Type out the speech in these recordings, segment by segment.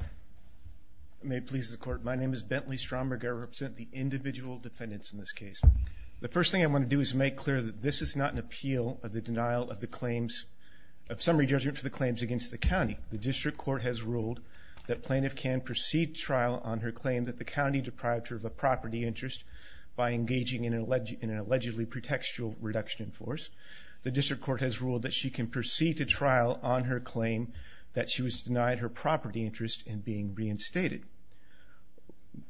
I may please the court. My name is Bentley Stromberg. I represent the individual defendants in this case. The first thing I want to do is make clear that this is not an appeal of the denial of the claims of summary judgment for the claims against the county. The district court has ruled that plaintiff can proceed trial on her claim that the county deprived her of a property interest by engaging in an allegedly pretextual reduction in force. The district court has ruled that she can proceed to trial on her claim that she was denied her property interest in being reinstated.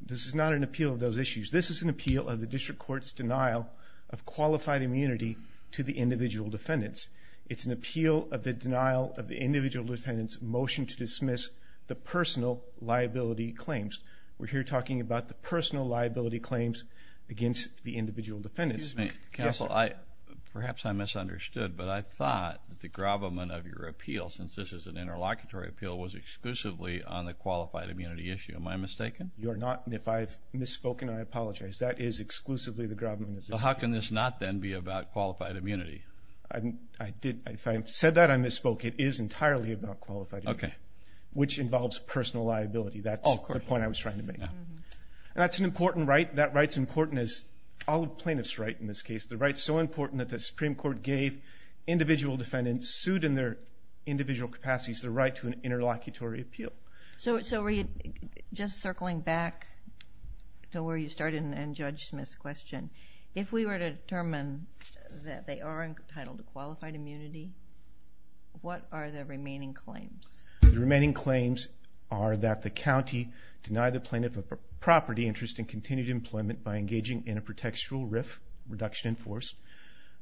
This is not an appeal of those issues. This is an appeal of the district court's denial of qualified immunity to the individual defendants. It's an appeal of the denial of the individual defendants motion to dismiss the personal liability claims. We're here talking about the personal liability claims against the individual defendants. Excuse me counsel, perhaps I misunderstood, but I thought that the appeal was exclusively on the qualified immunity issue. Am I mistaken? You're not and if I've misspoken I apologize. That is exclusively the government. So how can this not then be about qualified immunity? I didn't, if I said that I misspoke. It is entirely about qualified. Okay. Which involves personal liability. That's the point I was trying to make. That's an important right. That right's important as all plaintiffs right in this case. The right's so important that the Supreme Court gave individual defendants sued in their individual capacities the right to an interlocutory appeal. So just circling back to where you started and Judge Smith's question, if we were to determine that they are entitled to qualified immunity, what are the remaining claims? The remaining claims are that the county denied the plaintiff a property interest in continued employment by engaging in a pretextual RIF, reduction in force,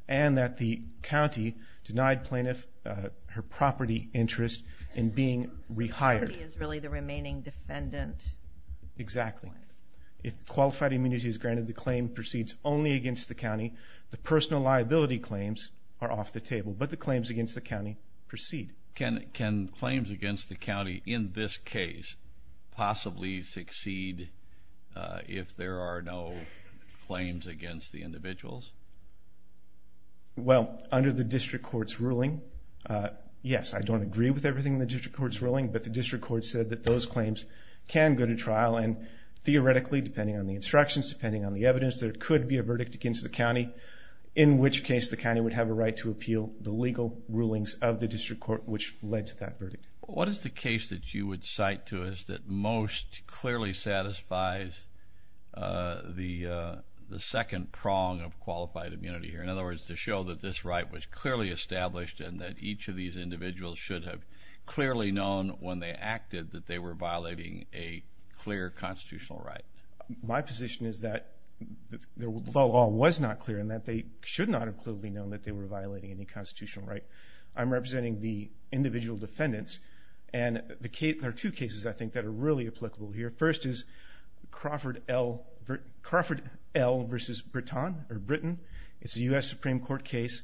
and that the county denied plaintiff her property interest in being rehired. Is really the remaining defendant. Exactly. If qualified immunity is granted, the claim proceeds only against the county. The personal liability claims are off the table, but the claims against the county proceed. Can claims against the county in this case possibly succeed if there are no claims against the county? Well, under the district court's ruling, yes, I don't agree with everything the district court's ruling, but the district court said that those claims can go to trial and theoretically, depending on the instructions, depending on the evidence, there could be a verdict against the county, in which case the county would have a right to appeal the legal rulings of the district court, which led to that verdict. What is the case that you would cite to us that most clearly satisfies the second prong of qualified immunity here? In other words, to show that this right was clearly established and that each of these individuals should have clearly known when they acted that they were violating a clear constitutional right. My position is that the law was not clear and that they should not have clearly known that they were violating any constitutional right. I'm representing the individual defendants and there are two cases I think that are really applicable here. The first is Crawford L. v. Britain. It's a U.S. Supreme Court case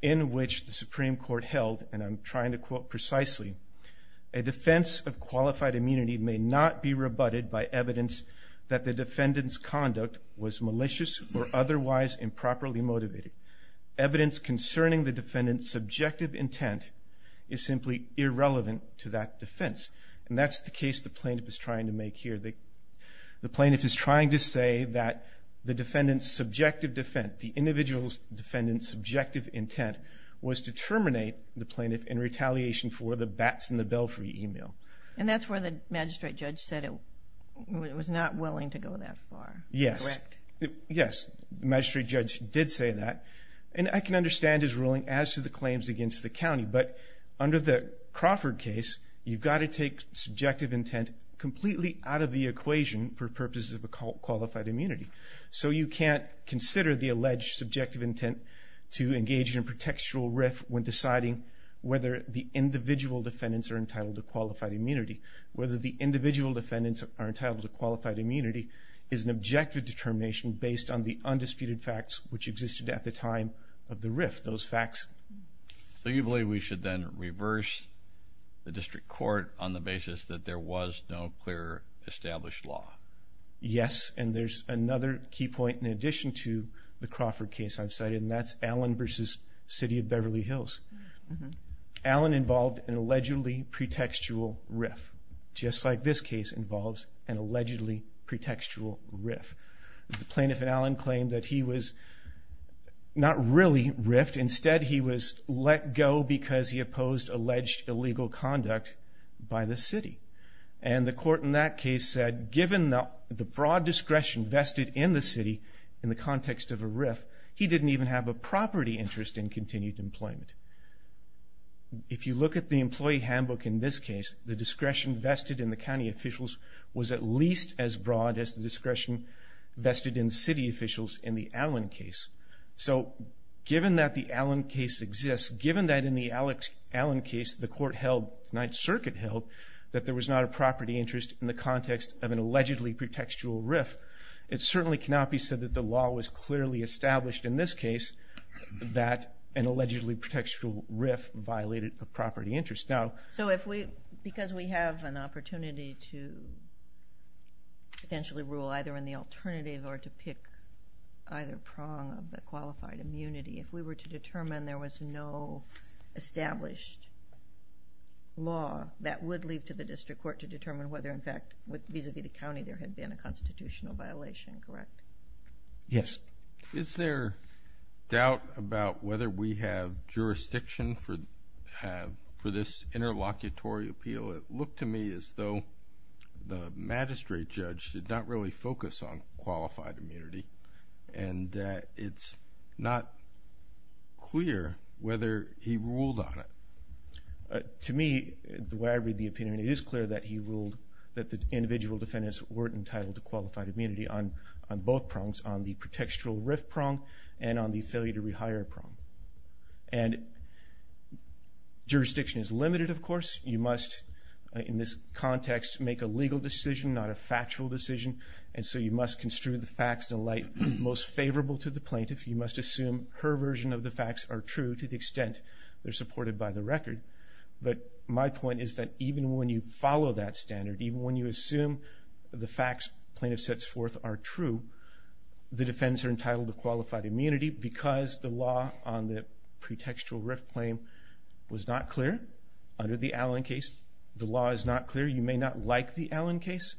in which the Supreme Court held, and I'm trying to quote precisely, a defense of qualified immunity may not be rebutted by evidence that the defendant's conduct was malicious or otherwise improperly motivated. Evidence concerning the defendant's subjective intent is simply irrelevant to that case here. The plaintiff is trying to say that the defendant's subjective defense, the individual's defendant's subjective intent, was to terminate the plaintiff in retaliation for the bats in the belfry email. And that's where the magistrate judge said it was not willing to go that far. Yes. Yes, the magistrate judge did say that, and I can understand his ruling as to the claims against the county, but under the Crawford case, you've got to take subjective intent completely out of the equation for purposes of a qualified immunity. So you can't consider the alleged subjective intent to engage in a pretextual riff when deciding whether the individual defendants are entitled to qualified immunity. Whether the individual defendants are entitled to qualified immunity is an objective determination based on the undisputed facts which existed at the time of the riff. Those facts. So you believe we should then know clearer established law? Yes, and there's another key point in addition to the Crawford case I've cited, and that's Allen versus City of Beverly Hills. Allen involved an allegedly pretextual riff, just like this case involves an allegedly pretextual riff. The plaintiff in Allen claimed that he was not really riffed. Instead, he was let go because he opposed alleged illegal conduct by the city. And the court in that case said given the broad discretion vested in the city in the context of a riff, he didn't even have a property interest in continued employment. If you look at the employee handbook in this case, the discretion vested in the county officials was at least as broad as the discretion vested in city officials in the Allen case. So the court held, Ninth Circuit held, that there was not a property interest in the context of an allegedly pretextual riff. It certainly cannot be said that the law was clearly established in this case that an allegedly pretextual riff violated a property interest. So if we, because we have an opportunity to potentially rule either in the alternative or to pick either prong of qualified immunity, if we were to determine there was no established law that would lead to the district court to determine whether in fact, vis-a-vis the county, there had been a constitutional violation, correct? Yes. Is there doubt about whether we have jurisdiction for this interlocutory appeal? It looked to me as though the magistrate judge did not really focus on qualified immunity and it's not clear whether he ruled on it. To me, the way I read the opinion, it is clear that he ruled that the individual defendants weren't entitled to qualified immunity on both prongs, on the pretextual riff prong and on the failure to rehire prong. And jurisdiction is limited, of course. You must, in this context, make a legal decision, not a and so you must construe the facts in a light most favorable to the plaintiff. You must assume her version of the facts are true to the extent they're supported by the record. But my point is that even when you follow that standard, even when you assume the facts plaintiff sets forth are true, the defendants are entitled to qualified immunity because the law on the pretextual riff claim was not clear under the Allen case. The law is not clear. You may not like the Allen case.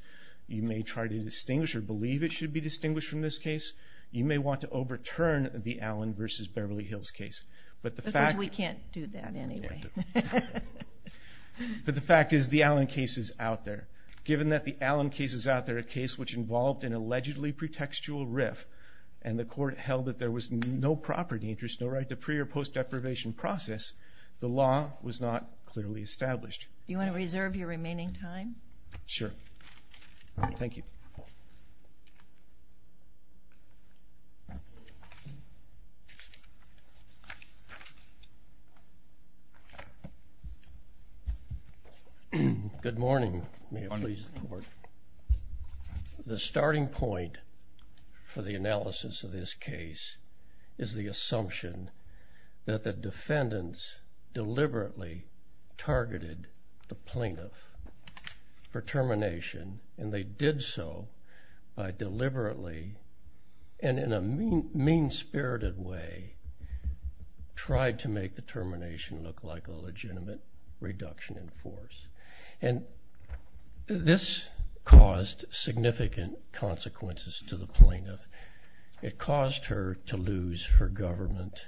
You may try to distinguish or believe it should be distinguished from this case. You may want to overturn the Allen versus Beverly Hills case. But the fact... Because we can't do that anyway. But the fact is the Allen case is out there. Given that the Allen case is out there, a case which involved an allegedly pretextual riff and the court held that there was no property interest, no right to pre or post deprivation process, the law was not clearly established. Do you want to reserve your remaining time? Sure. Thank you. Good morning. The starting point for the analysis of this case is the targeted the plaintiff for termination and they did so by deliberately and in a mean-spirited way tried to make the termination look like a legitimate reduction in force. And this caused significant consequences to the plaintiff. It caused her to lose her government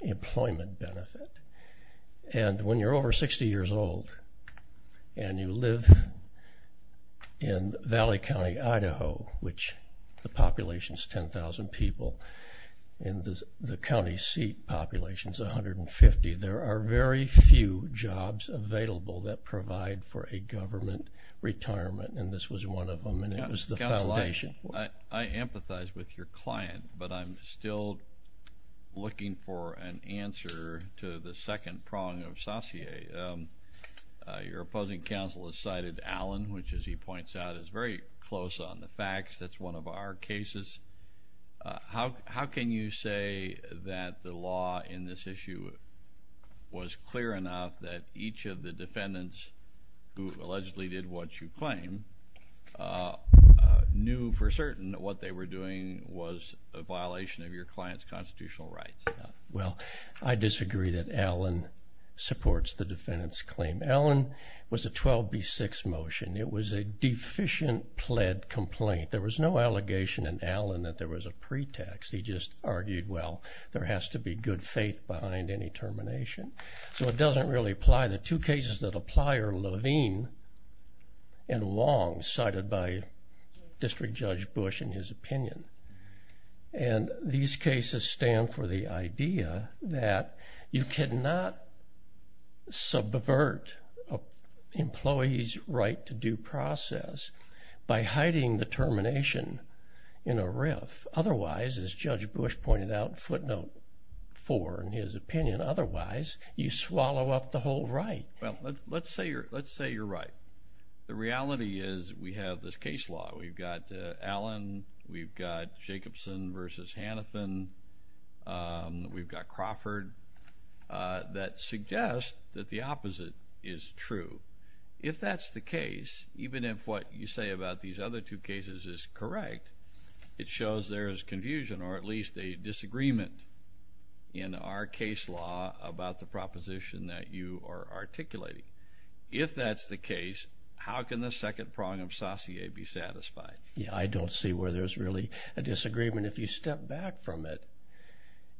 employment benefit. And when you're over 60 years old and you live in Valley County, Idaho, which the population is 10,000 people and the county seat population is 150, there are very few jobs available that provide for a government retirement. And this was one of them and it was the foundation. I empathize with your client, but I'm still looking for an answer to the question. Your opposing counsel has cited Allen, which as he points out is very close on the facts. That's one of our cases. How can you say that the law in this issue was clear enough that each of the defendants who allegedly did what you claim knew for certain that what they were doing was a violation of your defendant's claim? Allen was a 12B6 motion. It was a deficient pled complaint. There was no allegation in Allen that there was a pretext. He just argued, well, there has to be good faith behind any termination. So it doesn't really apply. The two cases that apply are Levine and Long, cited by District Judge Bush and his opinion. And these cases stand for the idea that you cannot subvert employees' right to due process by hiding the termination in a riff. Otherwise, as Judge Bush pointed out in footnote 4 in his opinion, otherwise you swallow up the whole right. Well, let's say you're right. The reality is we have this case law. We've got Allen. We've got Jacobson versus Hannafin. We've got Crawford. That suggests that the opposite is true. If that's the case, even if what you say about these other two cases is correct, it shows there is confusion or at least a disagreement in our case law about the proposition that you are satisfied. Yeah, I don't see where there's really a disagreement if you step back from it.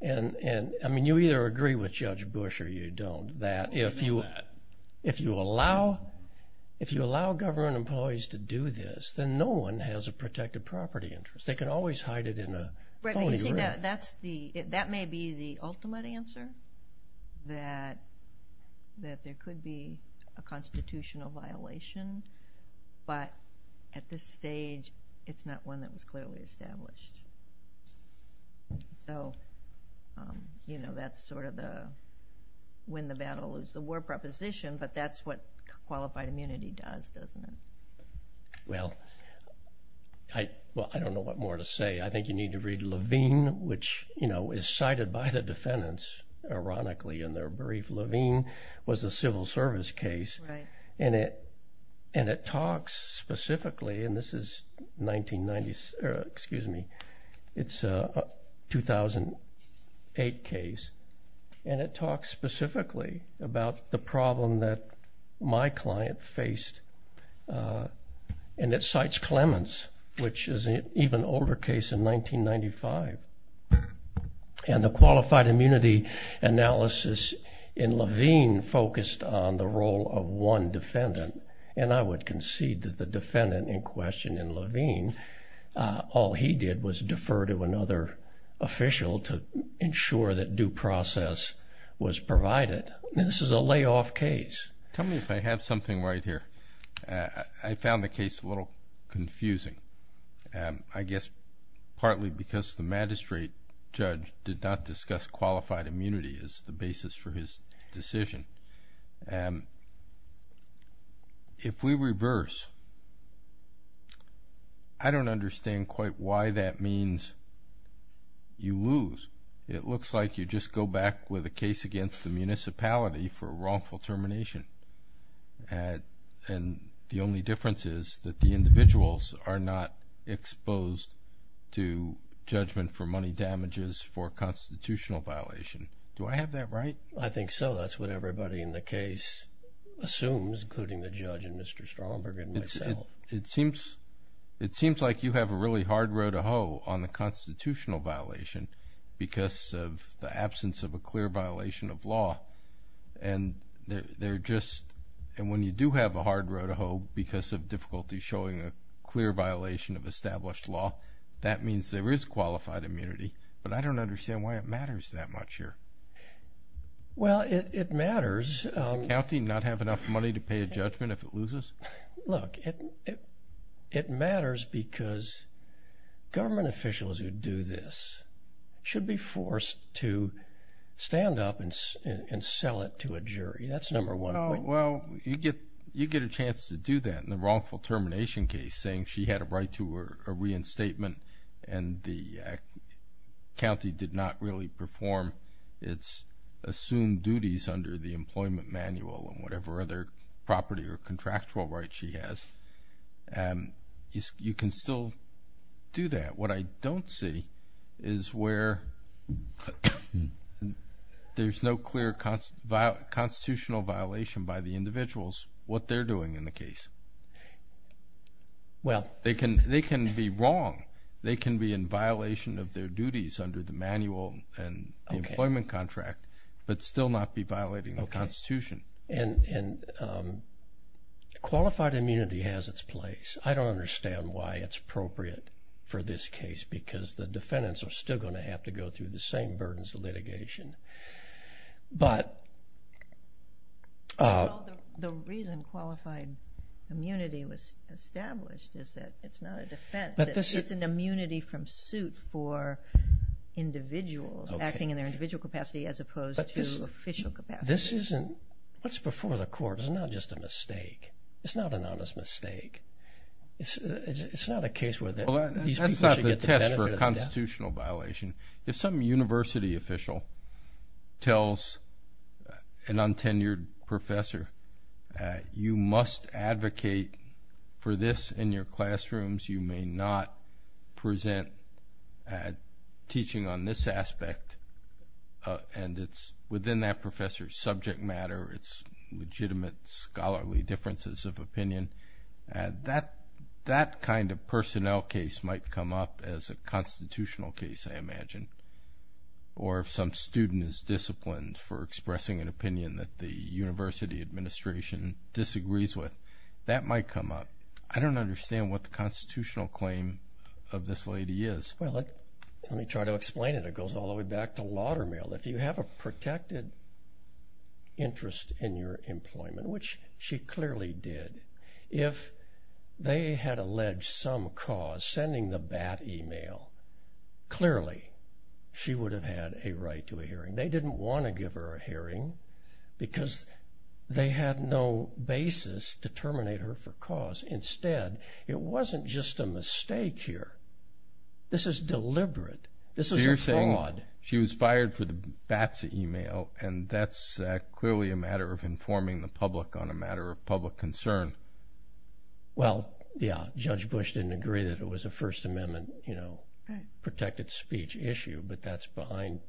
And, I mean, you either agree with Judge Bush or you don't, that if you allow government employees to do this, then no one has a protected property interest. They can always hide it in a foley riff. That may be the ultimate answer, that there could be a constitutional violation, but at this stage it's not one that was clearly established. So, you know, that's sort of the win-the-battle-lose-the-war proposition, but that's what qualified immunity does, doesn't it? Well, I don't know what more to say. I think you need to read Levine, which, you know, is cited by the And it talks specifically, and this is 1990, excuse me, it's a 2008 case, and it talks specifically about the problem that my client faced, and it cites Clements, which is an even older case in 1995. And the qualified immunity analysis in Levine focused on the role of one defendant, and I would concede that the defendant in question in Levine, all he did was defer to another official to ensure that due process was provided. This is a layoff case. Tell me if I have something right here. I found the case a little confusing, I guess partly because the magistrate judge did not discuss qualified immunity as the basis for his decision. If we reverse, I don't understand quite why that means you lose. It looks like you just go back with a case against the municipality for a wrongful termination, and the only difference is that the individuals are not exposed to judgment for money damages for constitutional violation. Do I have that right? I think so. That's what everybody in the case assumes, including the judge and Mr. Stromberg and myself. It seems like you have a really hard row to hoe on the constitutional violation because of the absence of a clear violation of law, and they're just, and when you do have a hard row to hoe because of difficulty showing a clear violation of established law, that means there is qualified immunity, but I don't understand why it matters that much here. Well, it matters. Does the county not have enough money to pay a judgment if it loses? Look, it matters because government officials who do this should be forced to stand up and sell it to a jury. That's number one. Well, you get a chance to do that in the wrongful termination case, saying she had a right to a reinstatement and the county did not really perform its assumed duties under the employment manual and whatever other property or contractual right she has. You can still do that. What I don't see is where there's no clear constitutional violation by the individuals what they're doing in the case. Well, they can be wrong. They can be in violation of their duties under the manual and employment contract, but still not be violating the Constitution. And qualified immunity has its place. I don't understand why it's appropriate for this case because the defendants are still going to have to go through the same burdens of litigation. The reason qualified immunity was established is that it's not a defense. It's an immunity from suit for individuals acting in their individual capacity as opposed to official capacity. This isn't, what's before the court is not just a mistake. It's not an honest mistake. It's not a case where these people should get the benefit of the doubt. For a constitutional violation, if some university official tells an untenured professor you must advocate for this in your classrooms, you may not present teaching on this aspect, and it's within that professor's subject matter, it's legitimate scholarly differences of opinion, that kind of personnel case might come up as a constitutional case, I imagine. Or if some student is disciplined for expressing an opinion that the university administration disagrees with, that might come up. I don't understand what the constitutional claim of this lady is. Well, let me try to explain it. It goes all the way back to Laudermill. If you have a protected interest in your employment, which she clearly did, if they had alleged some cause, sending the BAT email, clearly she would have had a right to a hearing. They didn't want to give her a hearing because they had no basis to terminate her for cause. Instead, it wasn't just a mistake here. This is deliberate. This is a fraud. She was fired for the BATS email, and that's clearly a matter of informing the public on a matter of public concern. Well, yeah, Judge Bush didn't agree that it was a First Amendment, you know, protected speech issue, but that's behind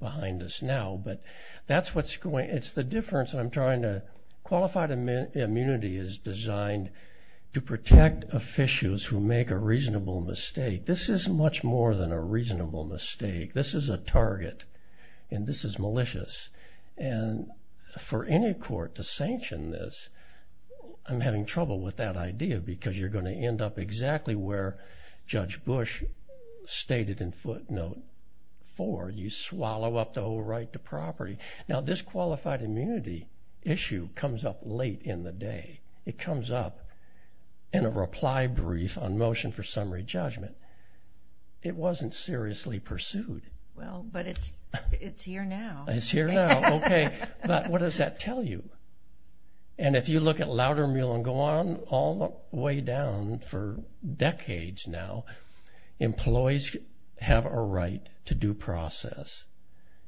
us now. But that's what's going, it's the difference I'm trying to, qualified immunity is designed to protect officials who make a reasonable mistake. This is much more than a reasonable mistake. This is a target, and this is malicious. And for any court to sanction this, I'm having trouble with that idea because you're going to end up exactly where Judge Bush stated in footnote four, you swallow up the whole right to property. Now, this qualified immunity issue comes up late in the day. It comes up in a reply brief on motion for summary judgment. It wasn't seriously pursued. Well, but it's here now. It's here now, okay, but what does that tell you? And if you look at Loudermill and go on all the way down for decades now, employees have a right to due process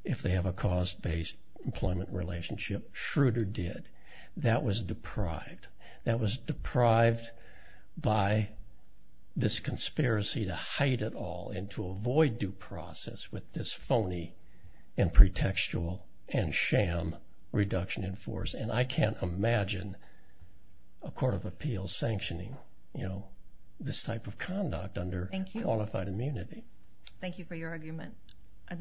if they have a cause-based employment relationship. Schroeder did. That was deprived. That was deprived by this conspiracy to hide it all and to avoid due process with this phony and pretextual and sham reduction in force. And I can't imagine a court of appeals sanctioning, you know, this type of conduct under qualified immunity. Thank you for your argument. I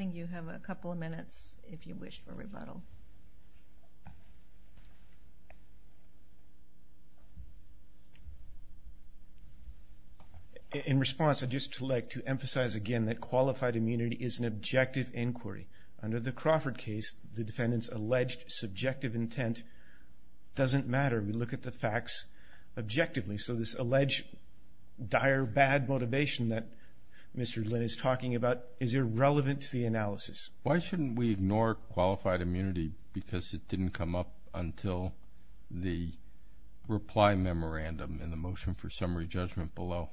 In response, I'd just like to emphasize again that qualified immunity is an objective inquiry. Under the Crawford case, the defendant's alleged subjective intent doesn't matter. We look at the facts objectively. So this alleged dire bad motivation that Mr. Lynn is talking about is irrelevant to the analysis. Why shouldn't we ignore qualified immunity because it didn't come up until the reply memorandum and the motion for summary judgment below?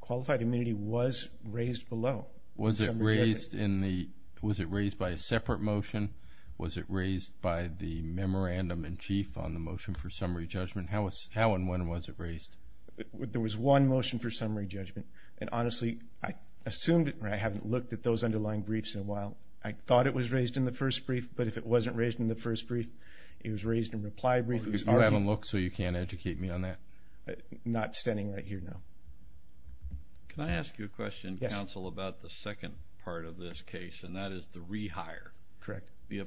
Qualified immunity was raised below. Was it raised in the, was it raised by a separate motion? Was it raised by the memorandum-in-chief on the motion for summary judgment? How and when was it raised? There was one motion for summary judgment and honestly, I assumed it and I haven't looked at those raised in the first brief, but if it wasn't raised in the first brief, it was raised in reply brief. You haven't looked, so you can't educate me on that? Not standing right here now. Can I ask you a question, counsel, about the second part of this case and that is the rehire. Correct. Your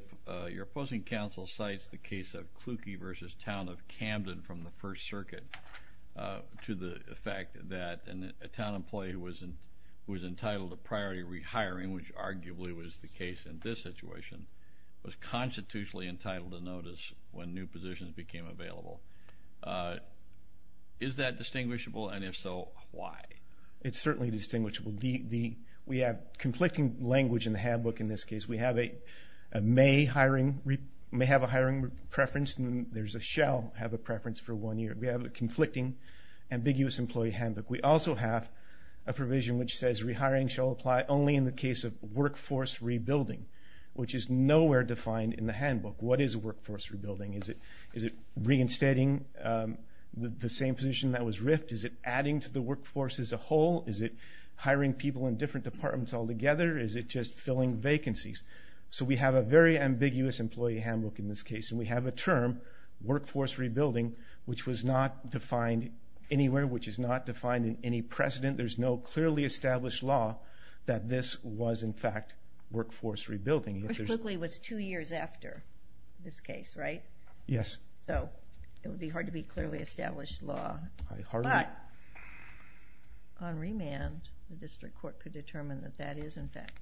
opposing counsel cites the case of Kluge versus Town of Camden from the First Circuit to the fact that a town employee who was entitled to priority rehiring, which arguably was the case in this situation, was constitutionally entitled to notice when new positions became available. Is that distinguishable and if so, why? It's certainly distinguishable. We have conflicting language in the handbook in this case. We have a may hiring, may have a hiring preference and there's a shall have a preference for one year. We have a conflicting ambiguous employee handbook. We also have a provision which says rehiring shall apply only in the case of workforce rebuilding, which is nowhere defined in the handbook. What is workforce rebuilding? Is it reinstating the same position that was RIFT? Is it adding to the workforce as a whole? Is it hiring people in different departments all together? Is it just filling vacancies? So we have a very ambiguous employee handbook in this case and we have a term, workforce rebuilding, which was not defined anywhere, which is not defined in any precedent. There's no clearly established law that this was, in fact, workforce rebuilding. Bruce Kluge was two years after this case, right? Yes. So it would be hard to be clearly established law. Hardly. But on remand, the district court could determine that that is, in fact,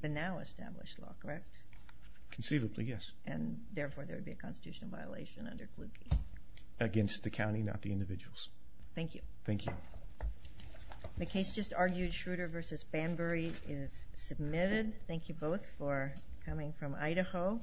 the now established law, correct? Conceivably, yes. And therefore, there would be a constitutional violation under Kluge. Against the county, not the county. Okay. I just argued Schroeder versus Banbury is submitted. Thank you both for coming from Idaho.